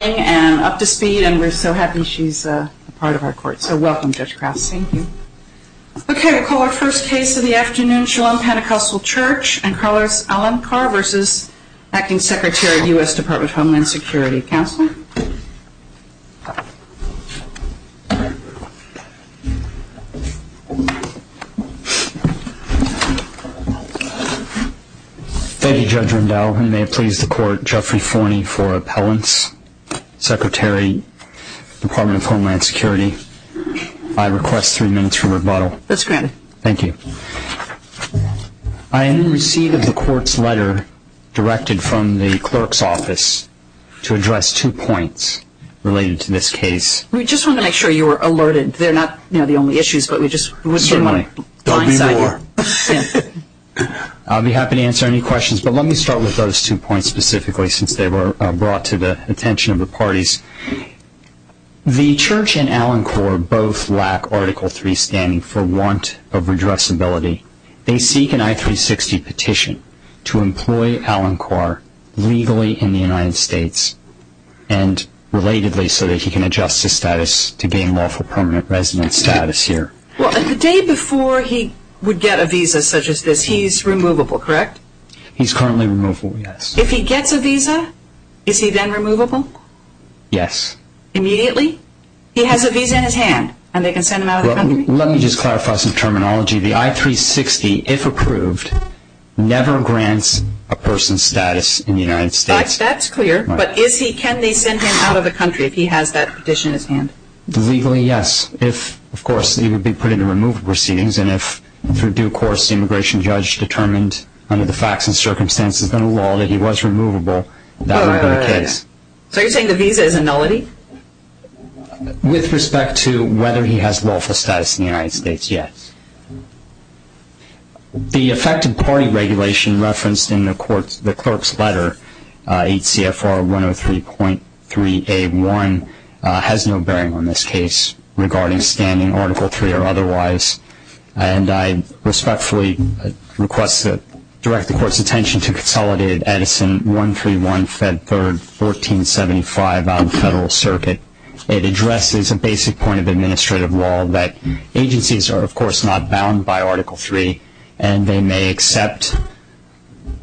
Thank you Judge Rundell, and may it please the Court, Jeffrey Forney for Appellants. Secretary, Department of Homeland Security, I request three minutes for rebuttal. That's granted. Thank you. I am in receipt of the Court's letter directed from the Clerk's Office to address two points related to this case. We just wanted to make sure you were alerted. They're not, you know, the only issues, but we just... Certainly. There'll be more. I'll be happy to answer any questions, but let me start with those two points specifically, since they were brought to the attention of the parties. The Church and Alan Carr both lack Article 3 standing for want of redressability. They seek an I-360 petition to employ Alan Carr legally in the United States, and relatedly so that he can adjust his status to gain lawful permanent residence status here. The day before he would get a visa such as this, he's removable, correct? He's currently removable, yes. If he gets a visa, is he then removable? Yes. Immediately? He has a visa in his hand, and they can send him out of the country? Let me just clarify some terminology. The I-360, if approved, never grants a person's status in the United States. That's clear, but can they send him out of the country if he has that petition in his hand? Legally, yes. If, of course, he would be put into removal proceedings, and if through due course the immigration judge determined under the facts and circumstances and the law that he was removable, that would be the case. So you're saying the visa is a nullity? With respect to whether he has lawful status in the United States, yes. The effective party regulation referenced in the clerk's letter, 8 CFR 103.3A1, has no bearing on this case regarding standing Article III or otherwise, and I respectfully request that I direct the Court's attention to Consolidated Edison 131 Fed 3rd 1475 out of the Federal Circuit. It addresses a basic point of administrative law that agencies are, of course, not bound by Article III, and they may accept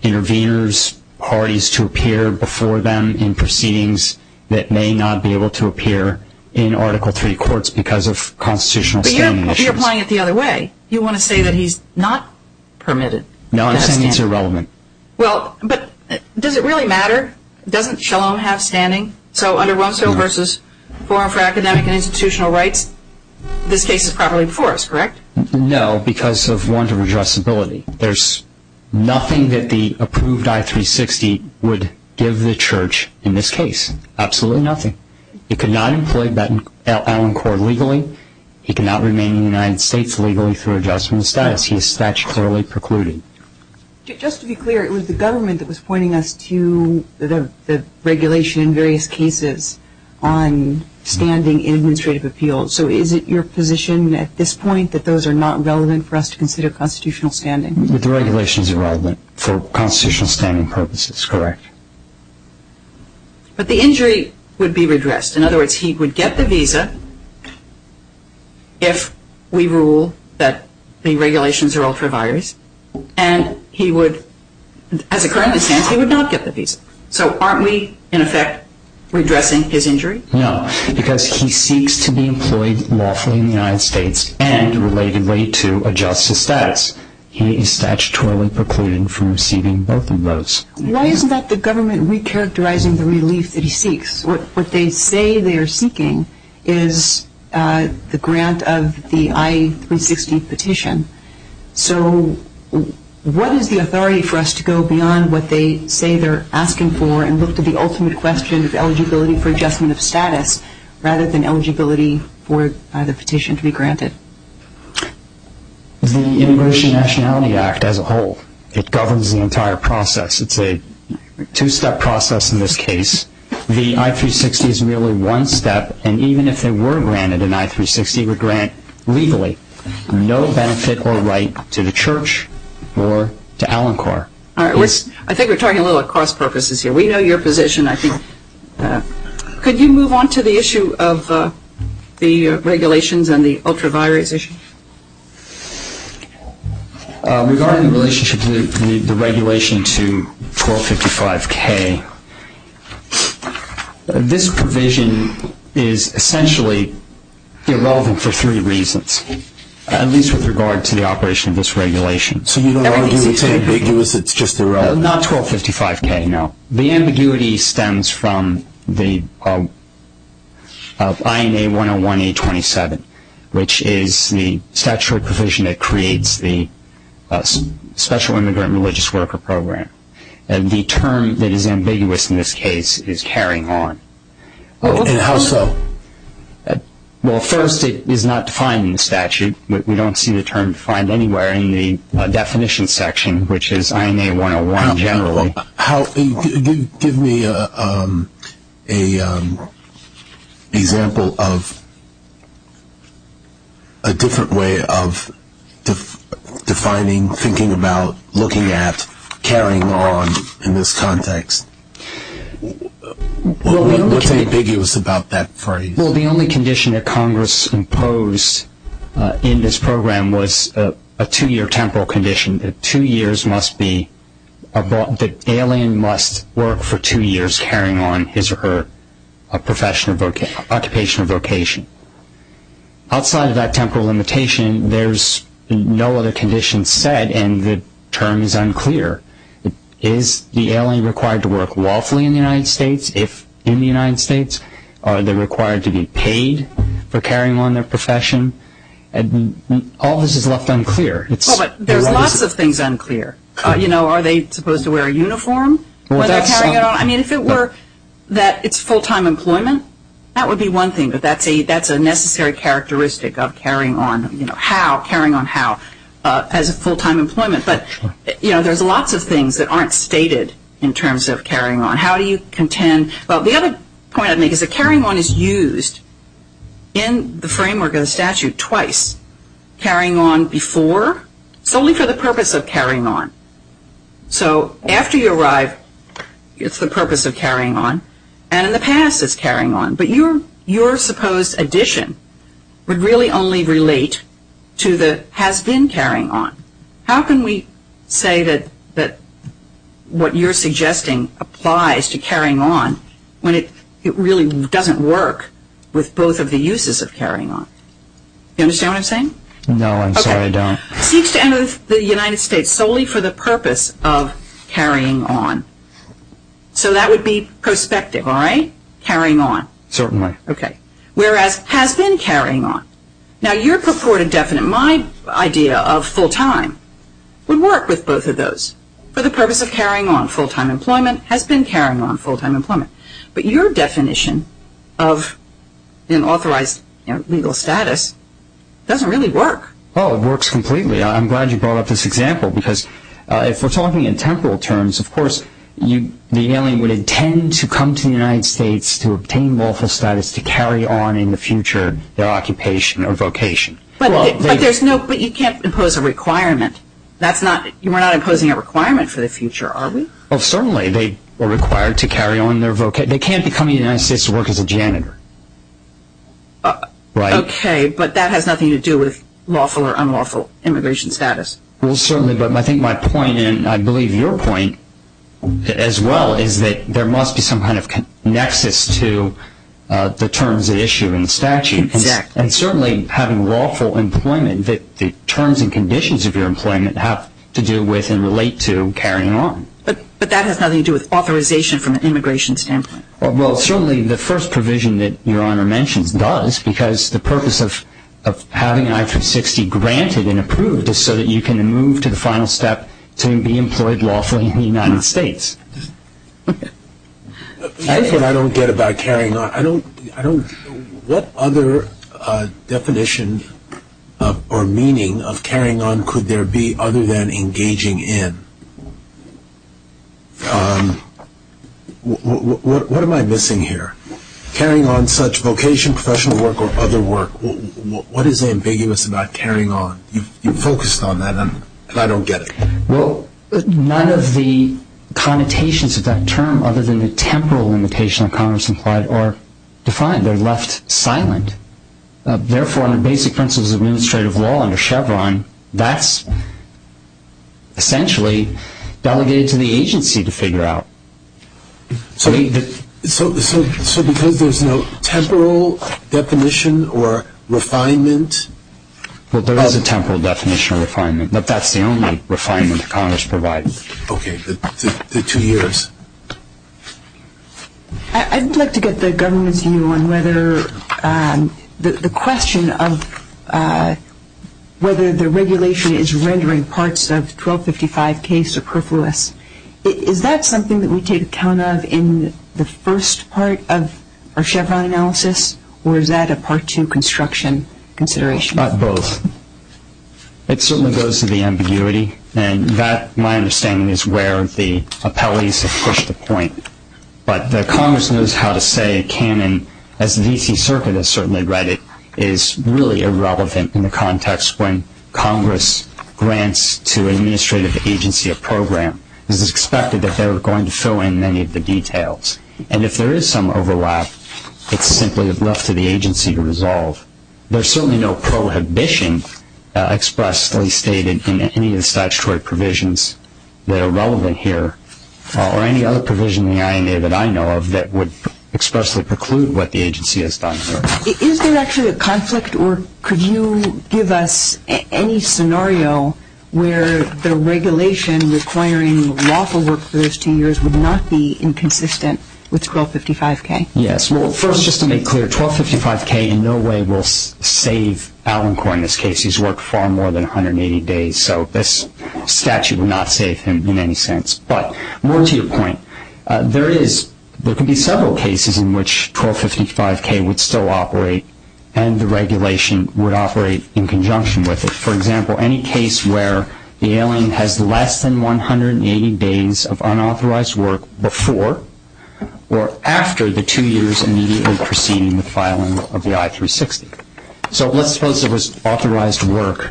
interveners, parties to appear before them in proceedings that may not be able to appear in Article III courts because of constitutional standing issues. But you're applying it the other way. You want to say that he's not permitted to have standing? No, I'm saying it's irrelevant. Well, but does it really matter? Doesn't Shalom have standing? So under Rumsfeld v. Forum for Academic and Institutional Rights, this case is properly enforced, correct? No, because of warrant of addressability. There's nothing that the approved I-360 would give the Church in this case, absolutely nothing. It could not employ Allen Court legally. He cannot remain in the United States legally through adjustment of status. He is statutorily precluded. Just to be clear, it was the government that was pointing us to the regulation in various cases on standing in administrative appeals. So is it your position at this point that those are not relevant for us to consider constitutional standing? The regulations are relevant for constitutional standing purposes, correct. But the injury would be redressed. In other words, he would get the visa if we rule that the regulations are ultraviolet. And he would, as it currently stands, he would not get the visa. So aren't we, in effect, redressing his injury? No, because he seeks to be employed lawfully in the United States and, relatedly, to adjust his status. He is statutorily precluded from receiving both of those. Why isn't that the government recharacterizing the relief that he seeks? What they say they are seeking is the grant of the I-360 petition. So what is the authority for us to go beyond what they say they're asking for and look to the ultimate question of eligibility for adjustment of status rather than eligibility for the petition to be granted? The Immigration and Nationality Act as a whole. It governs the entire process. It's a two-step process in this case. The I-360 is merely one step. And even if it were granted, an I-360 would grant, legally, no benefit or right to the church or to Alencor. I think we're talking a little bit about cross-purposes here. We know your position, I think. Could you move on to the issue of the regulations and the ultraviolet issue? Regarding the relationship to the regulation to 1255K, this provision is essentially irrelevant for three reasons, at least with regard to the operation of this regulation. So you don't argue it's ambiguous, it's just irrelevant? Not 1255K, no. The ambiguity stems from the INA 101-827, which is the statutory provision that creates the Special Immigrant Religious Worker Program. And the term that is ambiguous in this case is carrying on. And how so? Well, first, it is not defined in the statute. We don't see the term defined anywhere in the definition section, which is INA 101 generally. Give me an example of a different way of defining, thinking about, looking at, carrying on in this context. What's ambiguous about that phrase? Well, the only condition that Congress imposed in this program was a two-year temporal condition. The two years must be, the alien must work for two years carrying on his or her occupation or vocation. Outside of that temporal limitation, there's no other condition set, and the term is unclear. Is the alien required to work lawfully in the United States, if in the United States? Are they required to be paid for carrying on their profession? All this is left unclear. Well, but there's lots of things unclear. You know, are they supposed to wear a uniform when they're carrying on? I mean, if it were that it's full-time employment, that would be one thing, but that's a necessary characteristic of carrying on, you know, how, carrying on how, as a full-time employment. But, you know, there's lots of things that aren't stated in terms of carrying on. How do you contend? Well, the other point I'd make is that carrying on is used in the framework of the statute twice. Carrying on before is only for the purpose of carrying on. So after you arrive, it's the purpose of carrying on, and in the past it's carrying on. But your supposed addition would really only relate to the has-been carrying on. How can we say that what you're suggesting applies to carrying on when it really doesn't work with both of the uses of carrying on? Do you understand what I'm saying? No, I'm sorry, I don't. Okay. Seeks to enter the United States solely for the purpose of carrying on. So that would be prospective, all right? Carrying on. Certainly. Okay. Whereas has-been carrying on. Now, your purported definite, my idea of full-time, would work with both of those for the purpose of carrying on. Full-time employment, has-been carrying on, full-time employment. But your definition of an authorized legal status doesn't really work. Oh, it works completely. I'm glad you brought up this example because if we're talking in temporal terms, of course the alien would intend to come to the United States to obtain lawful status to carry on in the future their occupation or vocation. But you can't impose a requirement. You are not imposing a requirement for the future, are we? Oh, certainly. They are required to carry on their vocation. They can't come to the United States to work as a janitor. Okay, but that has nothing to do with lawful or unlawful immigration status. Well, certainly, but I think my point, and I believe your point as well, is that there must be some kind of nexus to the terms at issue in the statute. Exactly. And certainly, having lawful employment, the terms and conditions of your employment have to do with and relate to carrying on. But that has nothing to do with authorization from an immigration standpoint. Well, certainly, the first provision that Your Honor mentions does because the purpose of having an I-360 granted and approved is so that you can move to the final step to be employed lawfully in the United States. That's what I don't get about carrying on. What other definition or meaning of carrying on could there be other than engaging in? What am I missing here? Carrying on such vocation, professional work, or other work. What is ambiguous about carrying on? You focused on that, and I don't get it. Well, none of the connotations of that term, other than the temporal limitation of commerce implied, are defined. They're left silent. Therefore, under basic principles of administrative law under Chevron, that's essentially delegated to the agency to figure out. So because there's no temporal definition or refinement? Well, there is a temporal definition of refinement, but that's the only refinement that Congress provides. Okay, the two years. I would like to get the government's view on whether the question of whether the regulation is rendering parts of 1255K superfluous. Is that something that we take account of in the first part of our Chevron analysis, or is that a part two construction consideration? Both. It certainly goes to the ambiguity, and that, my understanding, is where the appellees have pushed the point. But Congress knows how to say it can, and as the D.C. Circuit has certainly read it, is really irrelevant in the context when Congress grants to an administrative agency a program. It's expected that they're going to fill in many of the details. And if there is some overlap, it's simply left to the agency to resolve. There's certainly no prohibition expressly stated in any of the statutory provisions that are relevant here, or any other provision in the INA that I know of that would expressly preclude what the agency has done here. Is there actually a conflict, or could you give us any scenario where the regulation requiring lawful work for those two years would not be inconsistent with 1255K? Yes. Well, first, just to make clear, 1255K in no way will save Alan Corr in this case. He's worked far more than 180 days, so this statute would not save him in any sense. But more to your point, there can be several cases in which 1255K would still operate and the regulation would operate in conjunction with it. For example, any case where the alien has less than 180 days of unauthorized work before or after the two years immediately preceding the filing of the I-360. So let's suppose there was authorized work.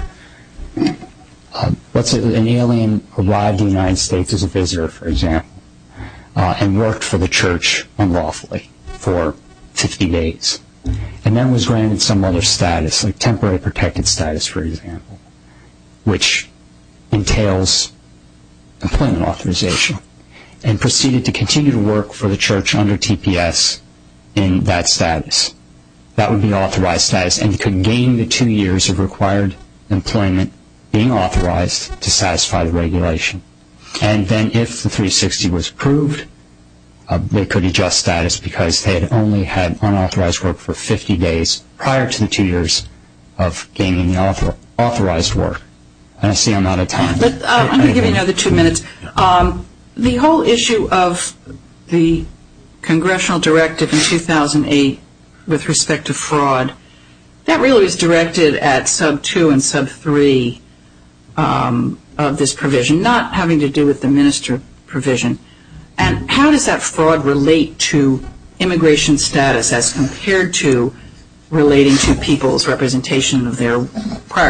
Let's say an alien arrived in the United States as a visitor, for example, and worked for the church unlawfully for 50 days, and then was granted some other status, like temporary protected status, for example, which entails employment authorization, and proceeded to continue to work for the church under TPS in that status. That would be authorized status, and he could gain the two years of required employment being authorized to satisfy the regulation. And then if the 360 was approved, they could adjust status because they had only had unauthorized work for 50 days prior to the two years of gaining the authorized work. And I see I'm out of time. I'm going to give you another two minutes. The whole issue of the congressional directive in 2008 with respect to fraud, that really was directed at sub-2 and sub-3 of this provision, not having to do with the minister provision. And how does that fraud relate to immigration status as compared to relating to people's representation How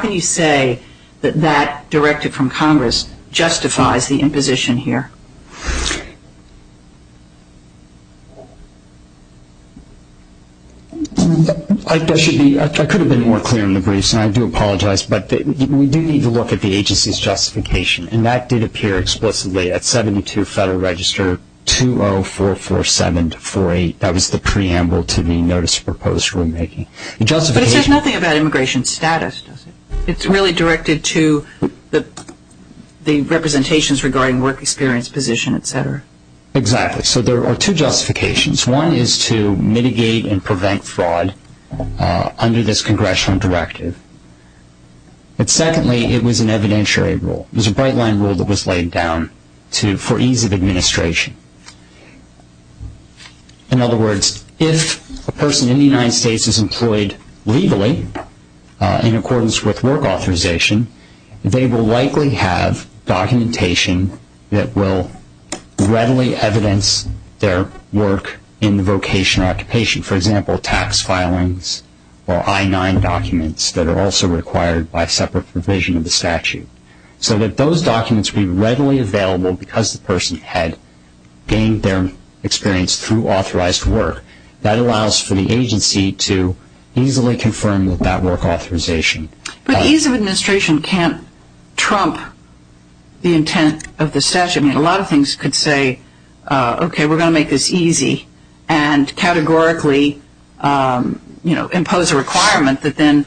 can you say that that directive from Congress justifies the imposition here? I could have been more clear in the briefs, and I do apologize, but we do need to look at the agency's justification, and that did appear explicitly at 72 Federal Register 20447-48. That was the preamble to the notice proposed for remaking. But it says nothing about immigration status, does it? It's really directed to the representations regarding work experience, position, et cetera. Exactly. So there are two justifications. One is to mitigate and prevent fraud under this congressional directive. But secondly, it was an evidentiary rule. It was a bright-line rule that was laid down for ease of administration. In other words, if a person in the United States is employed legally in accordance with work authorization, they will likely have documentation that will readily evidence their work in the vocation or occupation. For example, tax filings or I-9 documents that are also required by separate provision of the statute. So that those documents would be readily available because the person had gained their experience through authorized work. That allows for the agency to easily confirm that that work authorization. But ease of administration can't trump the intent of the statute. I mean, a lot of things could say, okay, we're going to make this easy, and categorically impose a requirement that then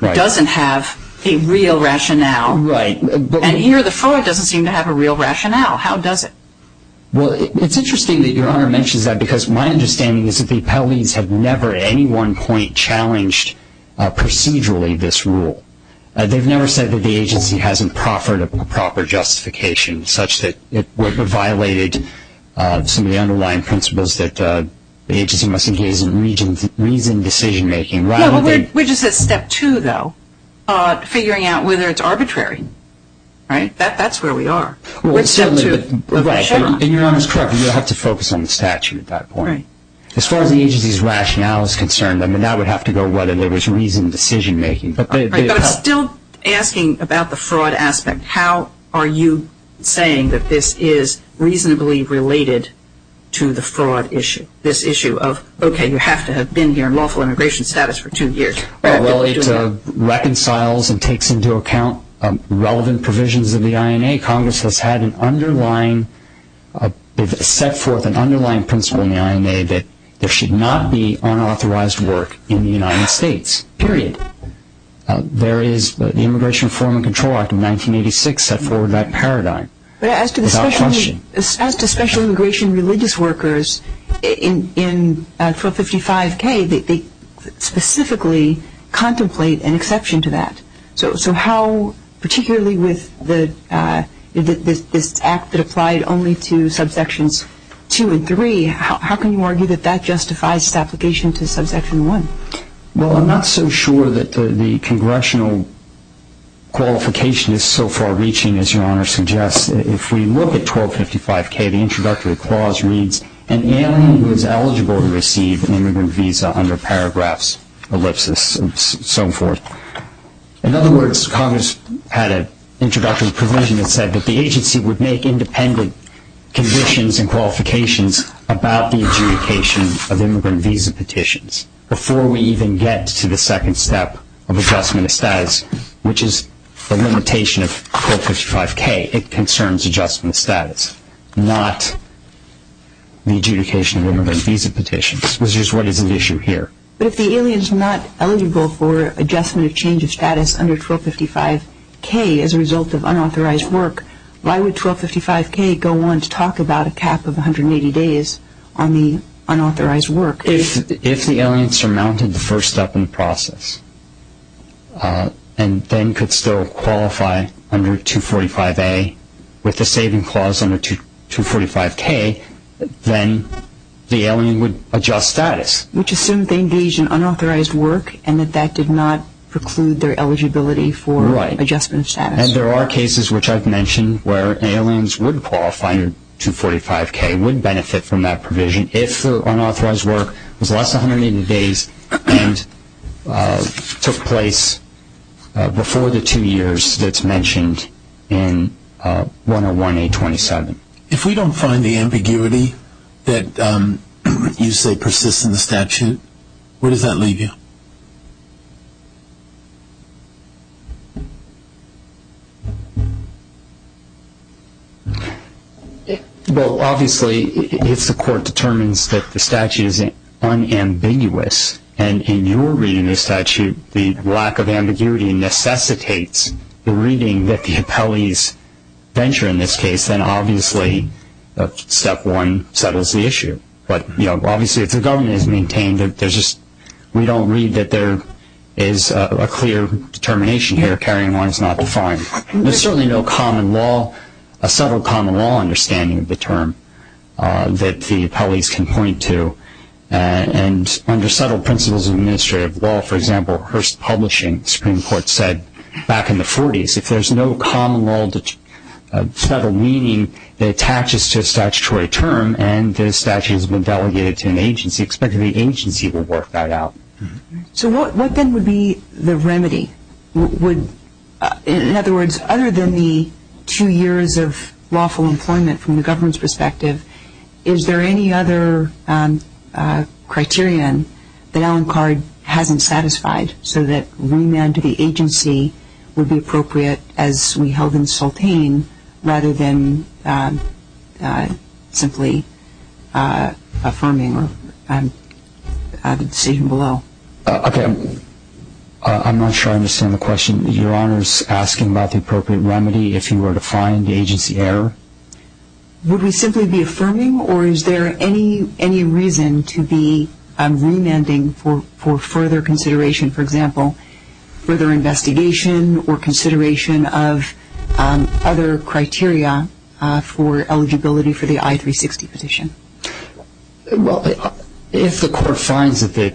doesn't have a real rationale. Right. And here the fraud doesn't seem to have a real rationale. How does it? Well, it's interesting that Your Honor mentions that because my understanding is that the appellees have never, at any one point, challenged procedurally this rule. They've never said that the agency hasn't proffered a proper justification, such that it violated some of the underlying principles that the agency must engage in reasoned decision-making. Yeah, but we're just at step two, though, figuring out whether it's arbitrary. Right? That's where we are. We're at step two. Right. And Your Honor's correct. You have to focus on the statute at that point. As far as the agency's rationale is concerned, I mean, that would have to go whether there was reasoned decision-making. Right, but it's still asking about the fraud aspect. How are you saying that this is reasonably related to the fraud issue, this issue of, okay, you have to have been here in lawful immigration status for two years. Well, it reconciles and takes into account relevant provisions of the INA. Congress has set forth an underlying principle in the INA that there should not be unauthorized work in the United States, period. There is the Immigration Reform and Control Act of 1986 set forth that paradigm without question. But as to special immigration religious workers in 455K, they specifically contemplate an exception to that. So how, particularly with this act that applied only to subsections two and three, how can you argue that that justifies its application to subsection one? Well, I'm not so sure that the congressional qualification is so far reaching as Your Honor suggests. If we look at 1255K, the introductory clause reads, an alien who is eligible to receive an immigrant visa under paragraphs, ellipsis, and so forth. In other words, Congress had an introductory provision that said that the agency would make independent conditions and qualifications about the adjudication of immigrant visa petitions before we even get to the second step of adjustment of status, which is the limitation of 1255K. It concerns adjustment of status, not the adjudication of immigrant visa petitions, which is what is at issue here. But if the alien is not eligible for adjustment or change of status under 1255K as a result of unauthorized work, why would 1255K go on to talk about a cap of 180 days on the unauthorized work? If the alien surmounted the first step in the process and then could still qualify under 245A with the saving clause under 245K, then the alien would adjust status. Which assumes they engaged in unauthorized work and that that did not preclude their eligibility for adjustment of status. And there are cases, which I've mentioned, where aliens would qualify under 245K, would benefit from that provision if the unauthorized work was less than 180 days and took place before the two years that's mentioned in 101A27. If we don't find the ambiguity that you say persists in the statute, where does that leave you? Well, obviously if the court determines that the statute is unambiguous, and in your reading of the statute the lack of ambiguity necessitates the reading that the appellees venture in this case, then obviously step one settles the issue. But obviously if the government has maintained that there's just, we don't read that there is a clear determination here, carrying on is not defined. There's certainly no common law, a subtle common law understanding of the term that the appellees can point to. And under subtle principles of administrative law, for example, Hearst Publishing Supreme Court said back in the 40s, if there's no common law, subtle meaning that attaches to a statutory term and the statute has been delegated to an agency, expect that the agency will work that out. So what then would be the remedy? In other words, other than the two years of lawful employment from the government's perspective, is there any other criterion that Allan Card hasn't satisfied so that remand to the agency would be appropriate as we held in Sultane, rather than simply affirming the decision below? Okay. I'm not sure I understand the question. Your Honor is asking about the appropriate remedy if you were to find agency error. Would we simply be affirming or is there any reason to be remanding for further consideration, for example, further investigation or consideration of other criteria for eligibility for the I-360 petition? Well, if the court finds that the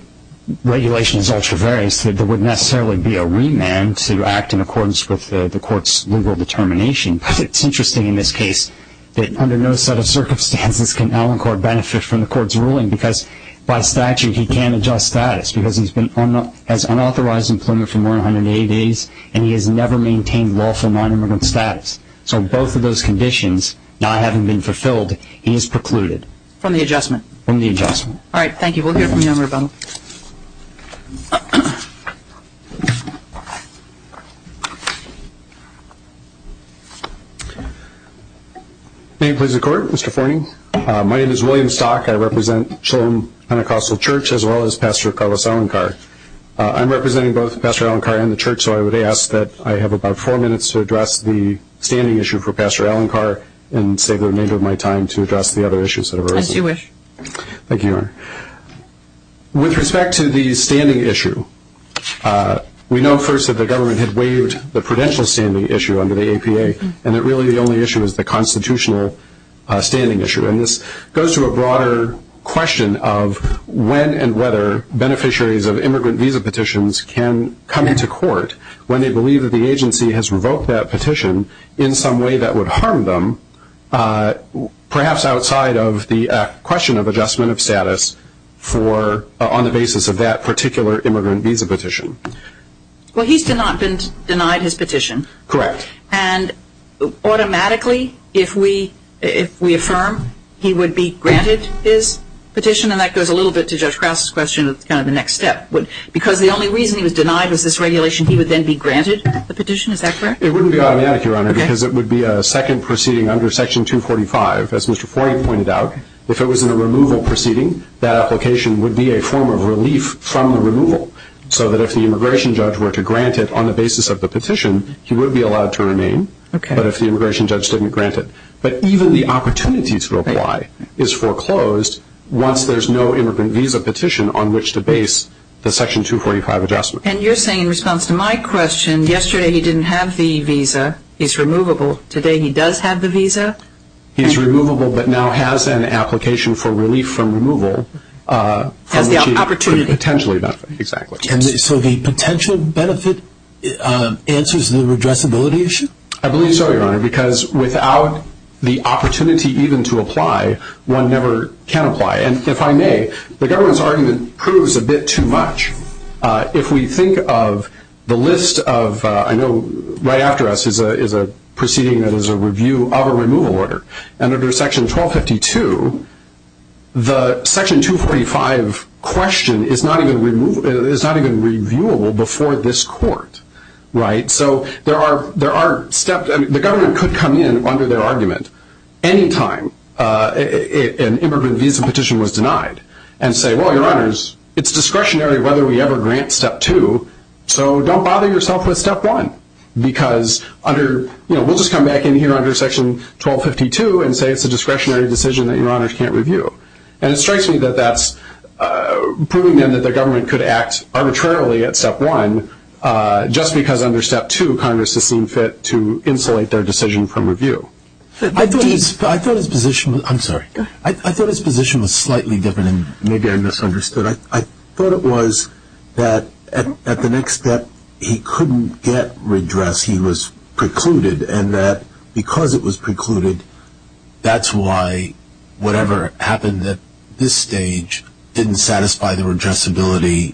regulation is ultra-various, there wouldn't necessarily be a remand to act in accordance with the court's legal determination. But it's interesting in this case that under no set of circumstances can Allan Card benefit from the court's ruling because by statute he can't adjust status because he has unauthorized employment for more than 180 days and he has never maintained lawful nonimmigrant status. So both of those conditions not having been fulfilled, he is precluded. From the adjustment? From the adjustment. All right, thank you. We'll hear from you on rebuttal. May it please the Court, Mr. Forney? My name is William Stock. I represent Shillam Pentecostal Church as well as Pastor Carlos Allan Card. I'm representing both Pastor Allan Card and the church, so I would ask that I have about four minutes to address the standing issue for Pastor Allan Card and save the remainder of my time to address the other issues that have arisen. As you wish. Thank you. With respect to the standing issue, we know first that the government had waived the prudential standing issue under the APA and that really the only issue is the constitutional standing issue. And this goes to a broader question of when and whether beneficiaries of immigrant visa petitions can come into court when they believe that the agency has revoked that petition in some way that would harm them, perhaps outside of the question of adjustment of status on the basis of that particular immigrant visa petition. Well, he's denied his petition. Correct. And automatically, if we affirm, he would be granted his petition? And that goes a little bit to Judge Krause's question of kind of the next step. Because the only reason he was denied was this regulation, he would then be granted the petition? Is that correct? It wouldn't be automatic, Your Honor, because it would be a second proceeding under Section 245. As Mr. Forey pointed out, if it was in a removal proceeding, that application would be a form of relief from the removal. So that if the immigration judge were to grant it on the basis of the petition, he would be allowed to remain. Okay. But if the immigration judge didn't grant it. But even the opportunity to apply is foreclosed once there's no immigrant visa petition on which to base the Section 245 adjustment. And you're saying in response to my question, yesterday he didn't have the visa, he's removable, today he does have the visa? He's removable but now has an application for relief from removal. Has the opportunity. Potentially. Exactly. So the potential benefit answers the redressability issue? I believe so, Your Honor, because without the opportunity even to apply, one never can apply. Okay. And if I may, the government's argument proves a bit too much. If we think of the list of, I know right after us is a proceeding that is a review of a removal order. And under Section 1252, the Section 245 question is not even reviewable before this court, right? So there are steps, the government could come in under their argument any time an immigrant visa petition was denied and say, well, Your Honors, it's discretionary whether we ever grant Step 2, so don't bother yourself with Step 1. Because under, you know, we'll just come back in here under Section 1252 and say it's a discretionary decision that Your Honors can't review. And it strikes me that that's proving then that the government could act arbitrarily at Step 1 just because under Step 2, Congress has seen fit to insulate their decision from review. I thought his position was slightly different and maybe I misunderstood. I thought it was that at the next step he couldn't get redress, he was precluded, and that because it was precluded, that's why whatever happened at this stage didn't satisfy the redressability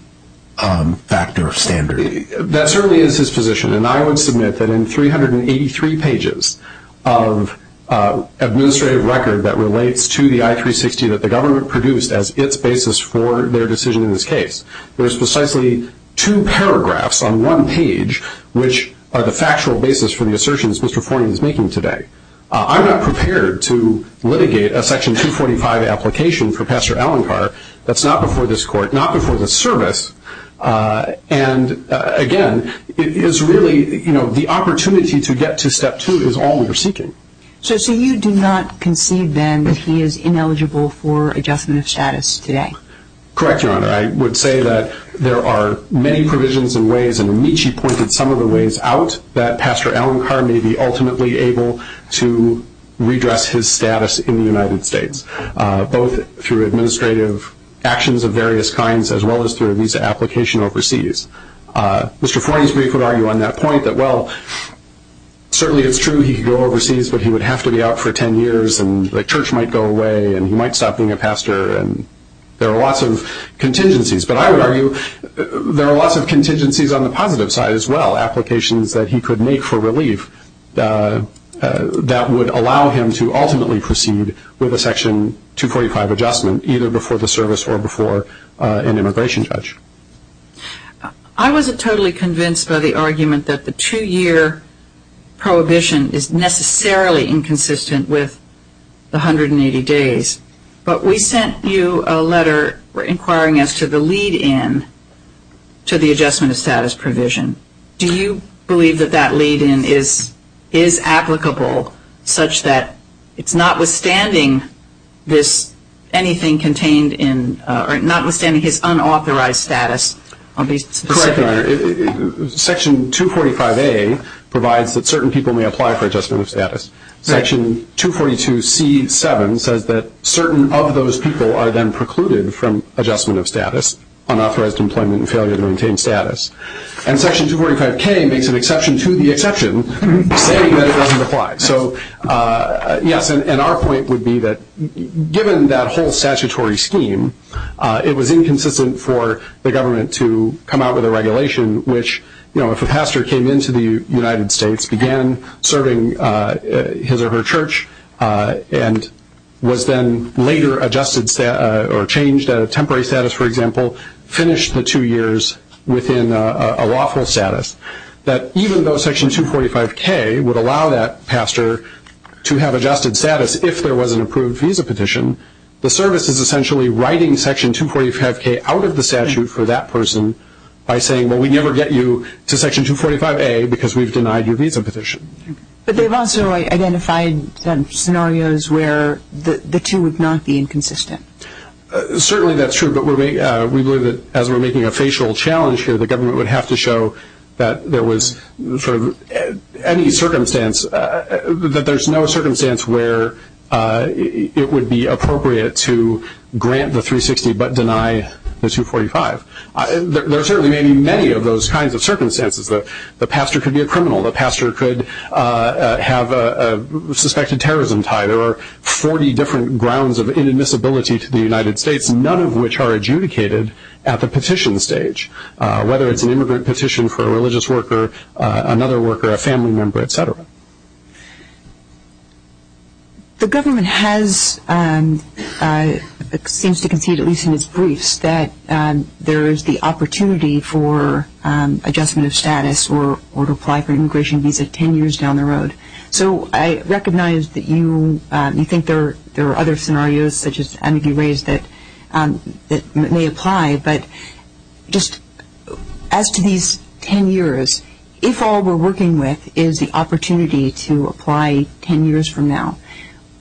factor standard. That certainly is his position. And I would submit that in 383 pages of administrative record that relates to the I-360 that the government produced as its basis for their decision in this case, there's precisely two paragraphs on one page which are the factual basis for the assertions Mr. Forney is making today. I'm not prepared to litigate a Section 245 application for Pastor Alencar that's not before this court, not before this service. And, again, it is really, you know, the opportunity to get to Step 2 is all we're seeking. So you do not concede then that he is ineligible for adjustment of status today? Correct, Your Honor. I would say that there are many provisions and ways, and Amici pointed some of the ways out, that Pastor Alencar may be ultimately able to redress his status in the United States, both through administrative actions of various kinds as well as through a visa application overseas. Mr. Forney's brief would argue on that point that, well, certainly it's true he could go overseas, but he would have to be out for 10 years, and the church might go away, and he might stop being a pastor, and there are lots of contingencies. But I would argue there are lots of contingencies on the positive side as well, applications that he could make for relief that would allow him to ultimately proceed with a Section 245 adjustment, either before the service or before an immigration judge. I wasn't totally convinced by the argument that the two-year prohibition is necessarily inconsistent with the 180 days, but we sent you a letter inquiring as to the lead-in to the adjustment of status provision. Do you believe that that lead-in is applicable such that it's notwithstanding this anything contained in or notwithstanding his unauthorized status? I'll be specific. Correct, Your Honor. Section 245A provides that certain people may apply for adjustment of status. Section 242C7 says that certain of those people are then precluded from adjustment of status, unauthorized employment and failure to maintain status. And Section 245K makes an exception to the exception, saying that it doesn't apply. So, yes, and our point would be that given that whole statutory scheme, it was inconsistent for the government to come out with a regulation which, you know, if a pastor came into the United States, began serving his or her church, and was then later adjusted or changed at a temporary status, for example, finished the two years within a lawful status, that even though Section 245K would allow that pastor to have adjusted status if there was an approved visa petition, the service is essentially writing Section 245K out of the statute for that person by saying, well, we never get you to Section 245A because we've denied your visa petition. But they've also identified scenarios where the two would not be inconsistent. Certainly that's true, but we believe that as we're making a facial challenge here, the government would have to show that there was sort of any circumstance, that there's no circumstance where it would be appropriate to grant the 360 but deny the 245. There certainly may be many of those kinds of circumstances. The pastor could be a criminal. The pastor could have a suspected terrorism tie. There are 40 different grounds of inadmissibility to the United States, none of which are adjudicated at the petition stage, whether it's an immigrant petition for a religious worker, another worker, a family member, et cetera. The government seems to concede, at least in its briefs, that there is the opportunity for adjustment of status or to apply for an immigration visa 10 years down the road. So I recognize that you think there are other scenarios, such as Andy raised, that may apply. But just as to these 10 years, if all we're working with is the opportunity to apply 10 years from now,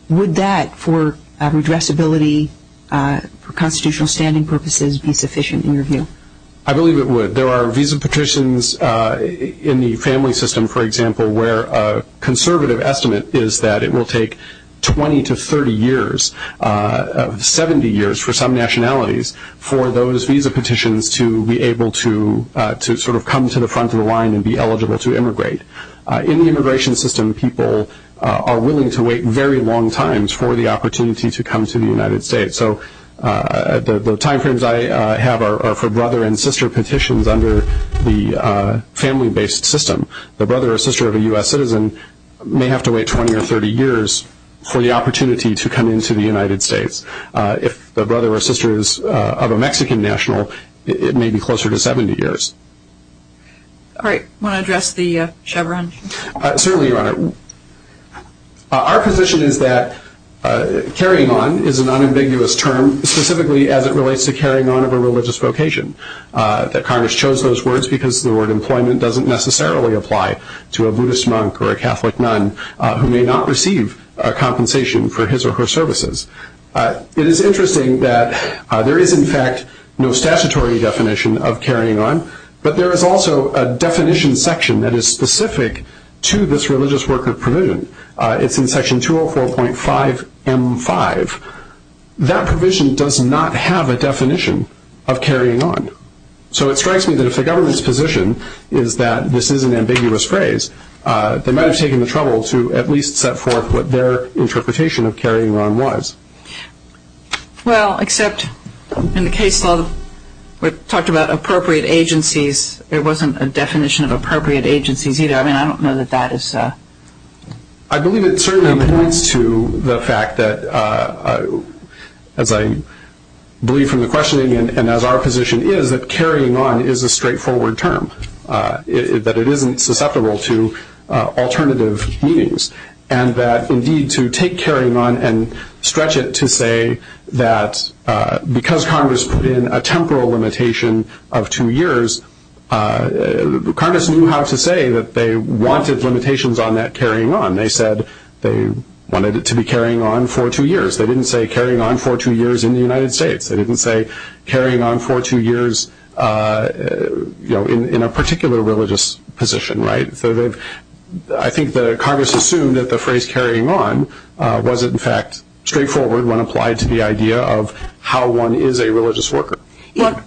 would that, for redressability, for constitutional standing purposes, be sufficient in your view? I believe it would. There are visa petitions in the family system, for example, where a conservative estimate is that it will take 20 to 30 years, 70 years for some nationalities, for those visa petitions to be able to sort of come to the front of the line and be eligible to immigrate. In the immigration system, people are willing to wait very long times for the opportunity to come to the United States. So the timeframes I have are for brother and sister petitions under the family-based system. The brother or sister of a U.S. citizen may have to wait 20 or 30 years for the opportunity to come into the United States. If the brother or sister is of a Mexican national, it may be closer to 70 years. All right. Want to address the Chevron? Certainly, Your Honor. Our position is that carrying on is an unambiguous term, specifically as it relates to carrying on of a religious vocation, that Congress chose those words because the word employment doesn't necessarily apply to a Buddhist monk or a Catholic nun who may not receive a compensation for his or her services. It is interesting that there is, in fact, no statutory definition of carrying on, but there is also a definition section that is specific to this religious worker provision. It's in Section 204.5M5. That provision does not have a definition of carrying on. So it strikes me that if the government's position is that this is an ambiguous phrase, they might have taken the trouble to at least set forth what their interpretation of carrying on was. Well, except in the case law, we talked about appropriate agencies. There wasn't a definition of appropriate agencies either. I mean, I don't know that that is... I believe it certainly points to the fact that, as I believe from the questioning and as our position is, that carrying on is a straightforward term, that it isn't susceptible to alternative meanings, and that indeed to take carrying on and stretch it to say that because Congress put in a temporal limitation of two years, Congress knew how to say that they wanted limitations on that carrying on. They said they wanted it to be carrying on for two years. They didn't say carrying on for two years in the United States. They didn't say carrying on for two years in a particular religious position. I think that Congress assumed that the phrase carrying on wasn't in fact straightforward when applied to the idea of how one is a religious worker. What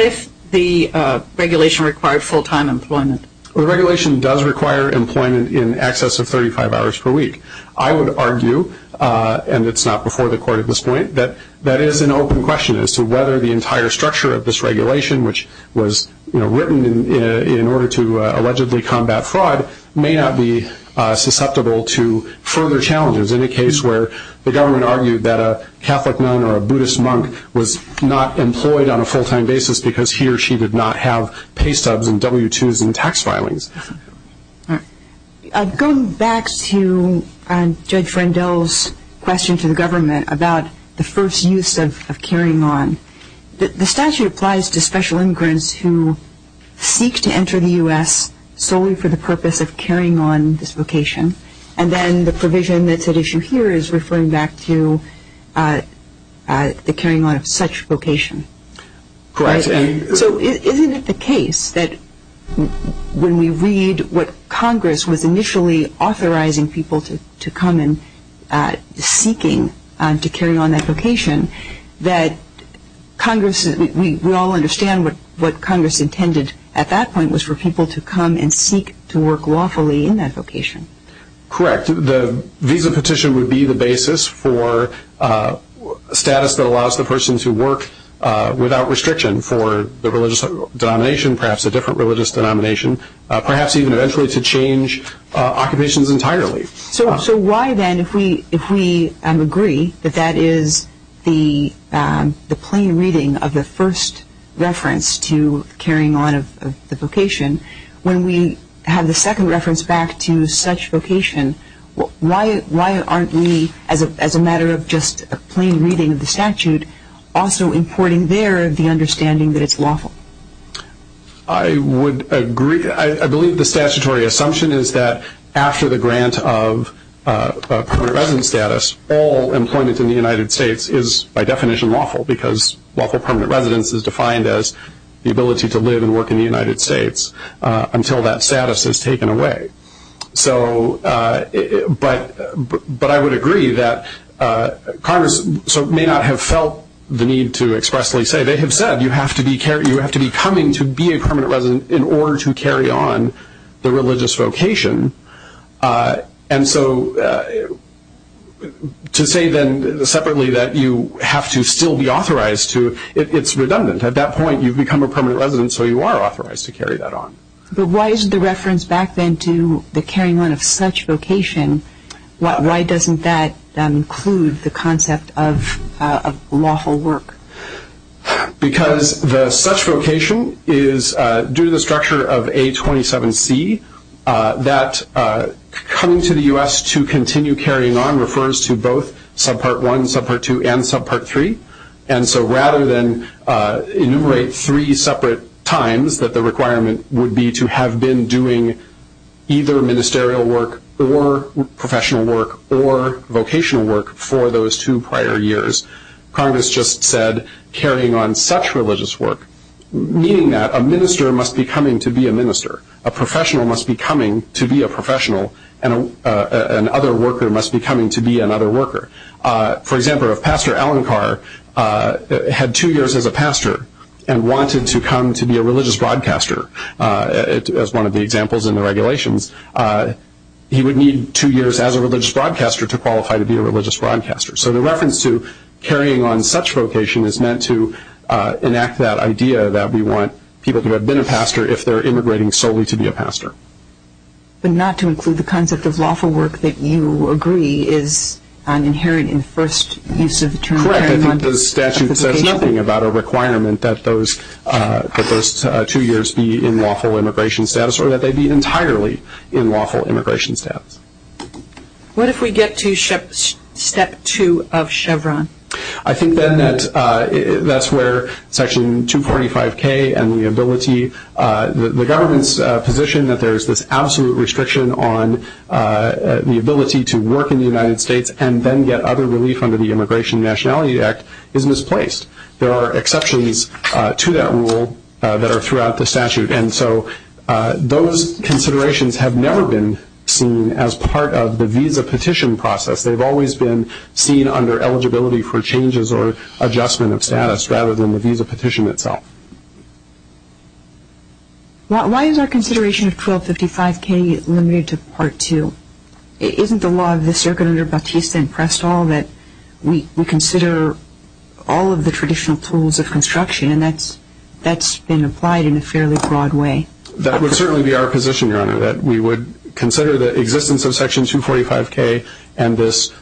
if the regulation required full-time employment? The regulation does require employment in excess of 35 hours per week. I would argue, and it's not before the court at this point, that that is an open question as to whether the entire structure of this regulation, which was written in order to allegedly combat fraud, may not be susceptible to further challenges in a case where the government argued that a Catholic nun or a Buddhist monk was not employed on a full-time basis because he or she did not have pay stubs and W-2s and tax filings. Going back to Judge Frendel's question to the government about the first use of carrying on, the statute applies to special immigrants who seek to enter the U.S. solely for the purpose of carrying on this vocation, and then the provision that's at issue here is referring back to the carrying on of such vocation. So isn't it the case that when we read what Congress was initially authorizing people to come in seeking to carry on that vocation, that we all understand what Congress intended at that point was for people to come and seek to work lawfully in that vocation? Correct. The visa petition would be the basis for status that allows the person to work without restriction for the religious denomination, perhaps a different religious denomination, perhaps even eventually to change occupations entirely. So why then, if we agree that that is the plain reading of the first reference to carrying on of the vocation, when we have the second reference back to such vocation, why aren't we, as a matter of just a plain reading of the statute, also importing there the understanding that it's lawful? I would agree. I believe the statutory assumption is that after the grant of permanent residence status, all employment in the United States is, by definition, lawful, because lawful permanent residence is defined as the ability to live and work in the United States until that status is taken away. But I would agree that Congress may not have felt the need to expressly say, they have said you have to be coming to be a permanent resident in order to carry on the religious vocation. And so to say then separately that you have to still be authorized to, it's redundant. At that point, you've become a permanent resident, so you are authorized to carry that on. But why isn't the reference back then to the carrying on of such vocation, why doesn't that include the concept of lawful work? Because the such vocation is, due to the structure of A27C, that coming to the U.S. to continue carrying on refers to both Subpart 1, Subpart 2, and Subpart 3. And so rather than enumerate three separate times that the requirement would be to have been doing either ministerial work or professional work or vocational work for those two prior years, Congress just said carrying on such religious work, meaning that a minister must be coming to be a minister, a professional must be coming to be a professional, and another worker must be coming to be another worker. For example, if Pastor Alan Carr had two years as a pastor and wanted to come to be a religious broadcaster, as one of the examples in the regulations, he would need two years as a religious broadcaster to qualify to be a religious broadcaster. So the reference to carrying on such vocation is meant to enact that idea that we want people who have been a pastor if they're immigrating solely to be a pastor. But not to include the concept of lawful work that you agree is inherent in the first use of the term carrying on. Correct. I think the statute says nothing about a requirement that those two years be in lawful immigration status or that they be entirely in lawful immigration status. What if we get to Step 2 of Chevron? I think then that's where Section 245K and the ability, the government's position that there's this absolute restriction on the ability to work in the United States and then get other relief under the Immigration and Nationality Act is misplaced. There are exceptions to that rule that are throughout the statute. And so those considerations have never been seen as part of the visa petition process. They've always been seen under eligibility for changes or adjustment of status rather than the visa petition itself. Why is our consideration of 1255K limited to Part 2? Isn't the law of the circuit under Bautista and Prestall that we consider all of the traditional tools of construction and that's been applied in a fairly broad way? Or that we would consider the existence of Section 245K and this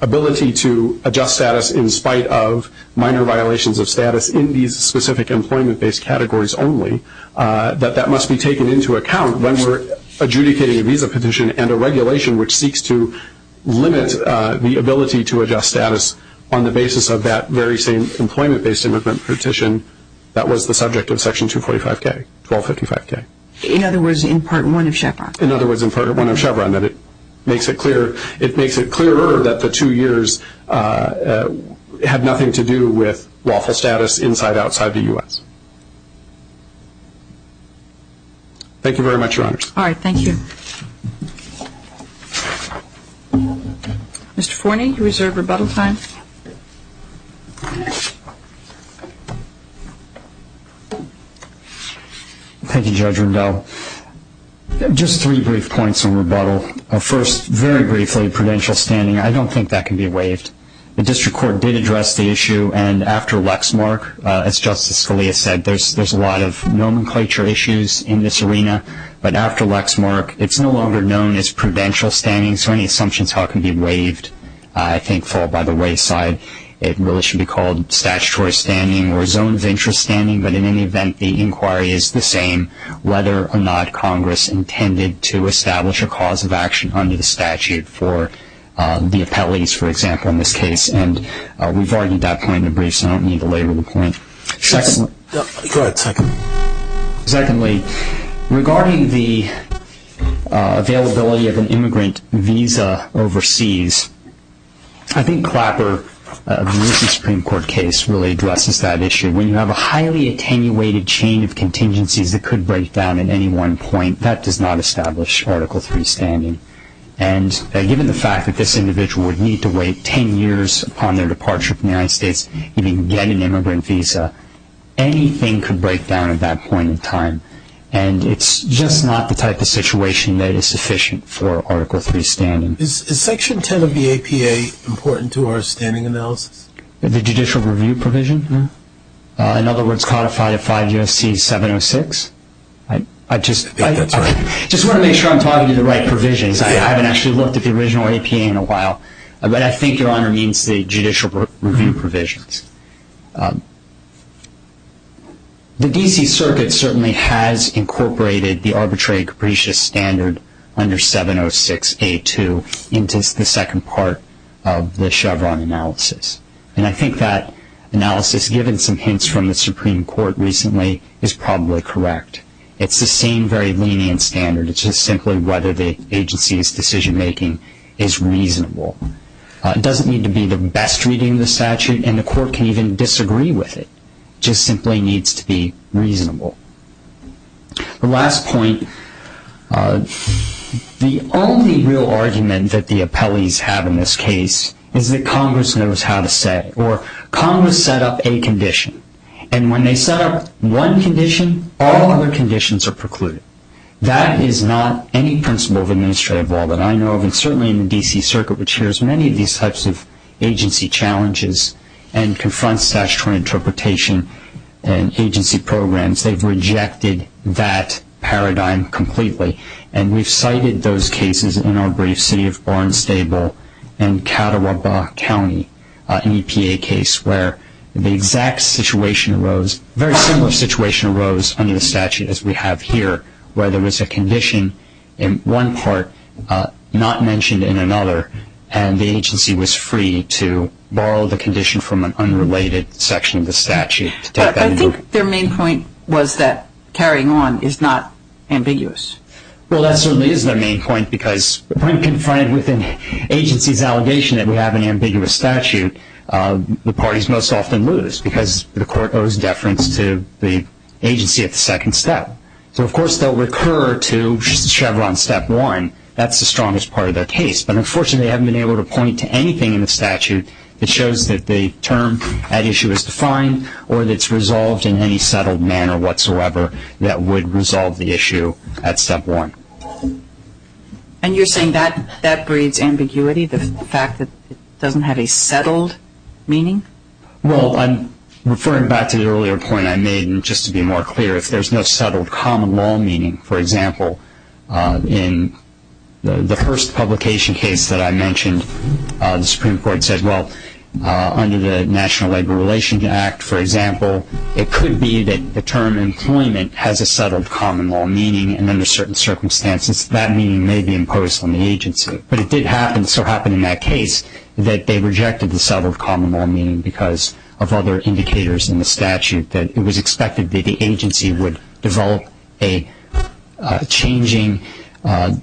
ability to adjust status in spite of minor violations of status in these specific employment-based categories only that that must be taken into account when we're adjudicating a visa petition and a regulation which seeks to limit the ability to adjust status on the basis of that very same employment-based immigrant petition that was the subject of Section 245K, 1255K? In other words, in Part 1 of Chevron? In other words, in Part 1 of Chevron, that it makes it clearer that the two years had nothing to do with lawful status inside, outside the U.S. Thank you very much, Your Honors. All right. Thank you. Mr. Forney, you reserve rebuttal time. Thank you, Judge Rendell. Just three brief points of rebuttal. First, very briefly, prudential standing, I don't think that can be waived. The District Court did address the issue and after Lexmark, as Justice Scalia said, there's a lot of nomenclature issues in this arena. But after Lexmark, it's no longer known as prudential standing, so any assumptions how it can be waived, I think, fall by the wayside. It really should be called statutory standing or zone of interest standing. But in any event, the inquiry is the same, whether or not Congress intended to establish a cause of action under the statute for the appellees, for example, in this case. And we've already got that point in the brief, so I don't need to label the point. Go ahead. Secondly, regarding the availability of an immigrant visa overseas, I think Clapper, the recent Supreme Court case, really addresses that issue. When you have a highly attenuated chain of contingencies that could break down at any one point, that does not establish Article III standing. And given the fact that this individual would need to wait 10 years upon their departure from the United States to even get an immigrant visa, anything could break down at that point in time. And it's just not the type of situation that is sufficient for Article III standing. Is Section 10 of the APA important to our standing analysis? The judicial review provision? No. In other words, codified at 5 U.S.C. 706? I think that's right. I just want to make sure I'm talking to the right provisions. I haven't actually looked at the original APA in a while. But I think, Your Honor, it means the judicial review provisions. The D.C. Circuit certainly has incorporated the arbitrary capricious standard under 706A2 into the second part of the Chevron analysis. And I think that analysis, given some hints from the Supreme Court recently, is probably correct. It's the same very lenient standard. It's just simply whether the agency's decision-making is reasonable. It doesn't need to be the best reading of the statute, and the court can even disagree with it. It just simply needs to be reasonable. The last point, the only real argument that the appellees have in this case is that Congress knows how to set it, or Congress set up a condition. And when they set up one condition, all other conditions are precluded. That is not any principle of administrative law that I know of, and certainly in the D.C. Circuit, which hears many of these types of agency challenges and confronts statutory interpretation and agency programs. They've rejected that paradigm completely. And we've cited those cases in our briefs, City of Barnes-Stable and Catawaba County, an EPA case, where the exact situation arose, a very similar situation arose under the statute as we have here, where there was a condition in one part not mentioned in another, and the agency was free to borrow the condition from an unrelated section of the statute. I think their main point was that carrying on is not ambiguous. Well, that certainly is their main point, because when confronted with an agency's allegation that we have an ambiguous statute, the parties most often lose, because the court owes deference to the agency at the second step. So, of course, they'll recur to Chevron step one. That's the strongest part of their case. But, unfortunately, they haven't been able to point to anything in the statute that shows that the term at issue is defined or that it's resolved in any settled manner whatsoever that would resolve the issue at step one. And you're saying that breeds ambiguity, the fact that it doesn't have a settled meaning? Well, I'm referring back to the earlier point I made, and just to be more clear, if there's no settled common law meaning, for example, in the first publication case that I mentioned, the Supreme Court said, well, under the National Labor Relations Act, for example, it could be that the term employment has a settled common law meaning, and under certain circumstances, that meaning may be imposed on the agency. But it did happen, so happened in that case, that they rejected the settled common law meaning because of other indicators in the statute that it was expected that the agency would develop a changing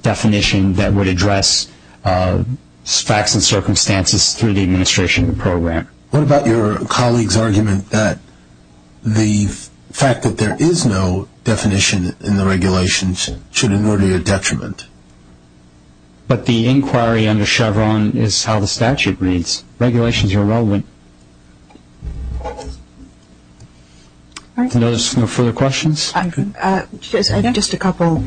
definition that would address facts and circumstances through the administration of the program. What about your colleague's argument that the fact that there is no definition in the regulations should in order to detriment? But the inquiry under Chevron is how the statute reads. Regulations are irrelevant. Are there no further questions? Just a couple.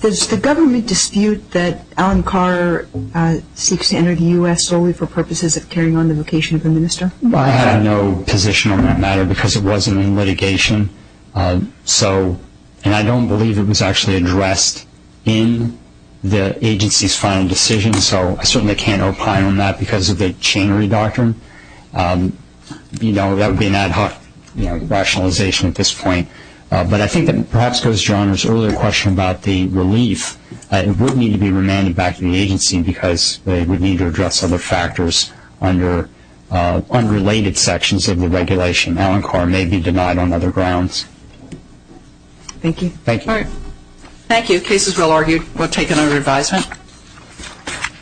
Does the government dispute that Alan Carr seeks to enter the U.S. solely for purposes of carrying on the vocation of a minister? I have no position on that matter because it wasn't in litigation, and I don't believe it was actually addressed in the agency's final decision, so I certainly can't opine on that because of the chain re-doctrine. That would be an ad hoc rationalization at this point. But I think that perhaps goes to John's earlier question about the relief. It would need to be remanded back to the agency because they would need to address other factors under unrelated sections of the regulation. Alan Carr may be denied on other grounds. Thank you. Thank you. All right. Thank you. Case is well argued. We'll take another advisement.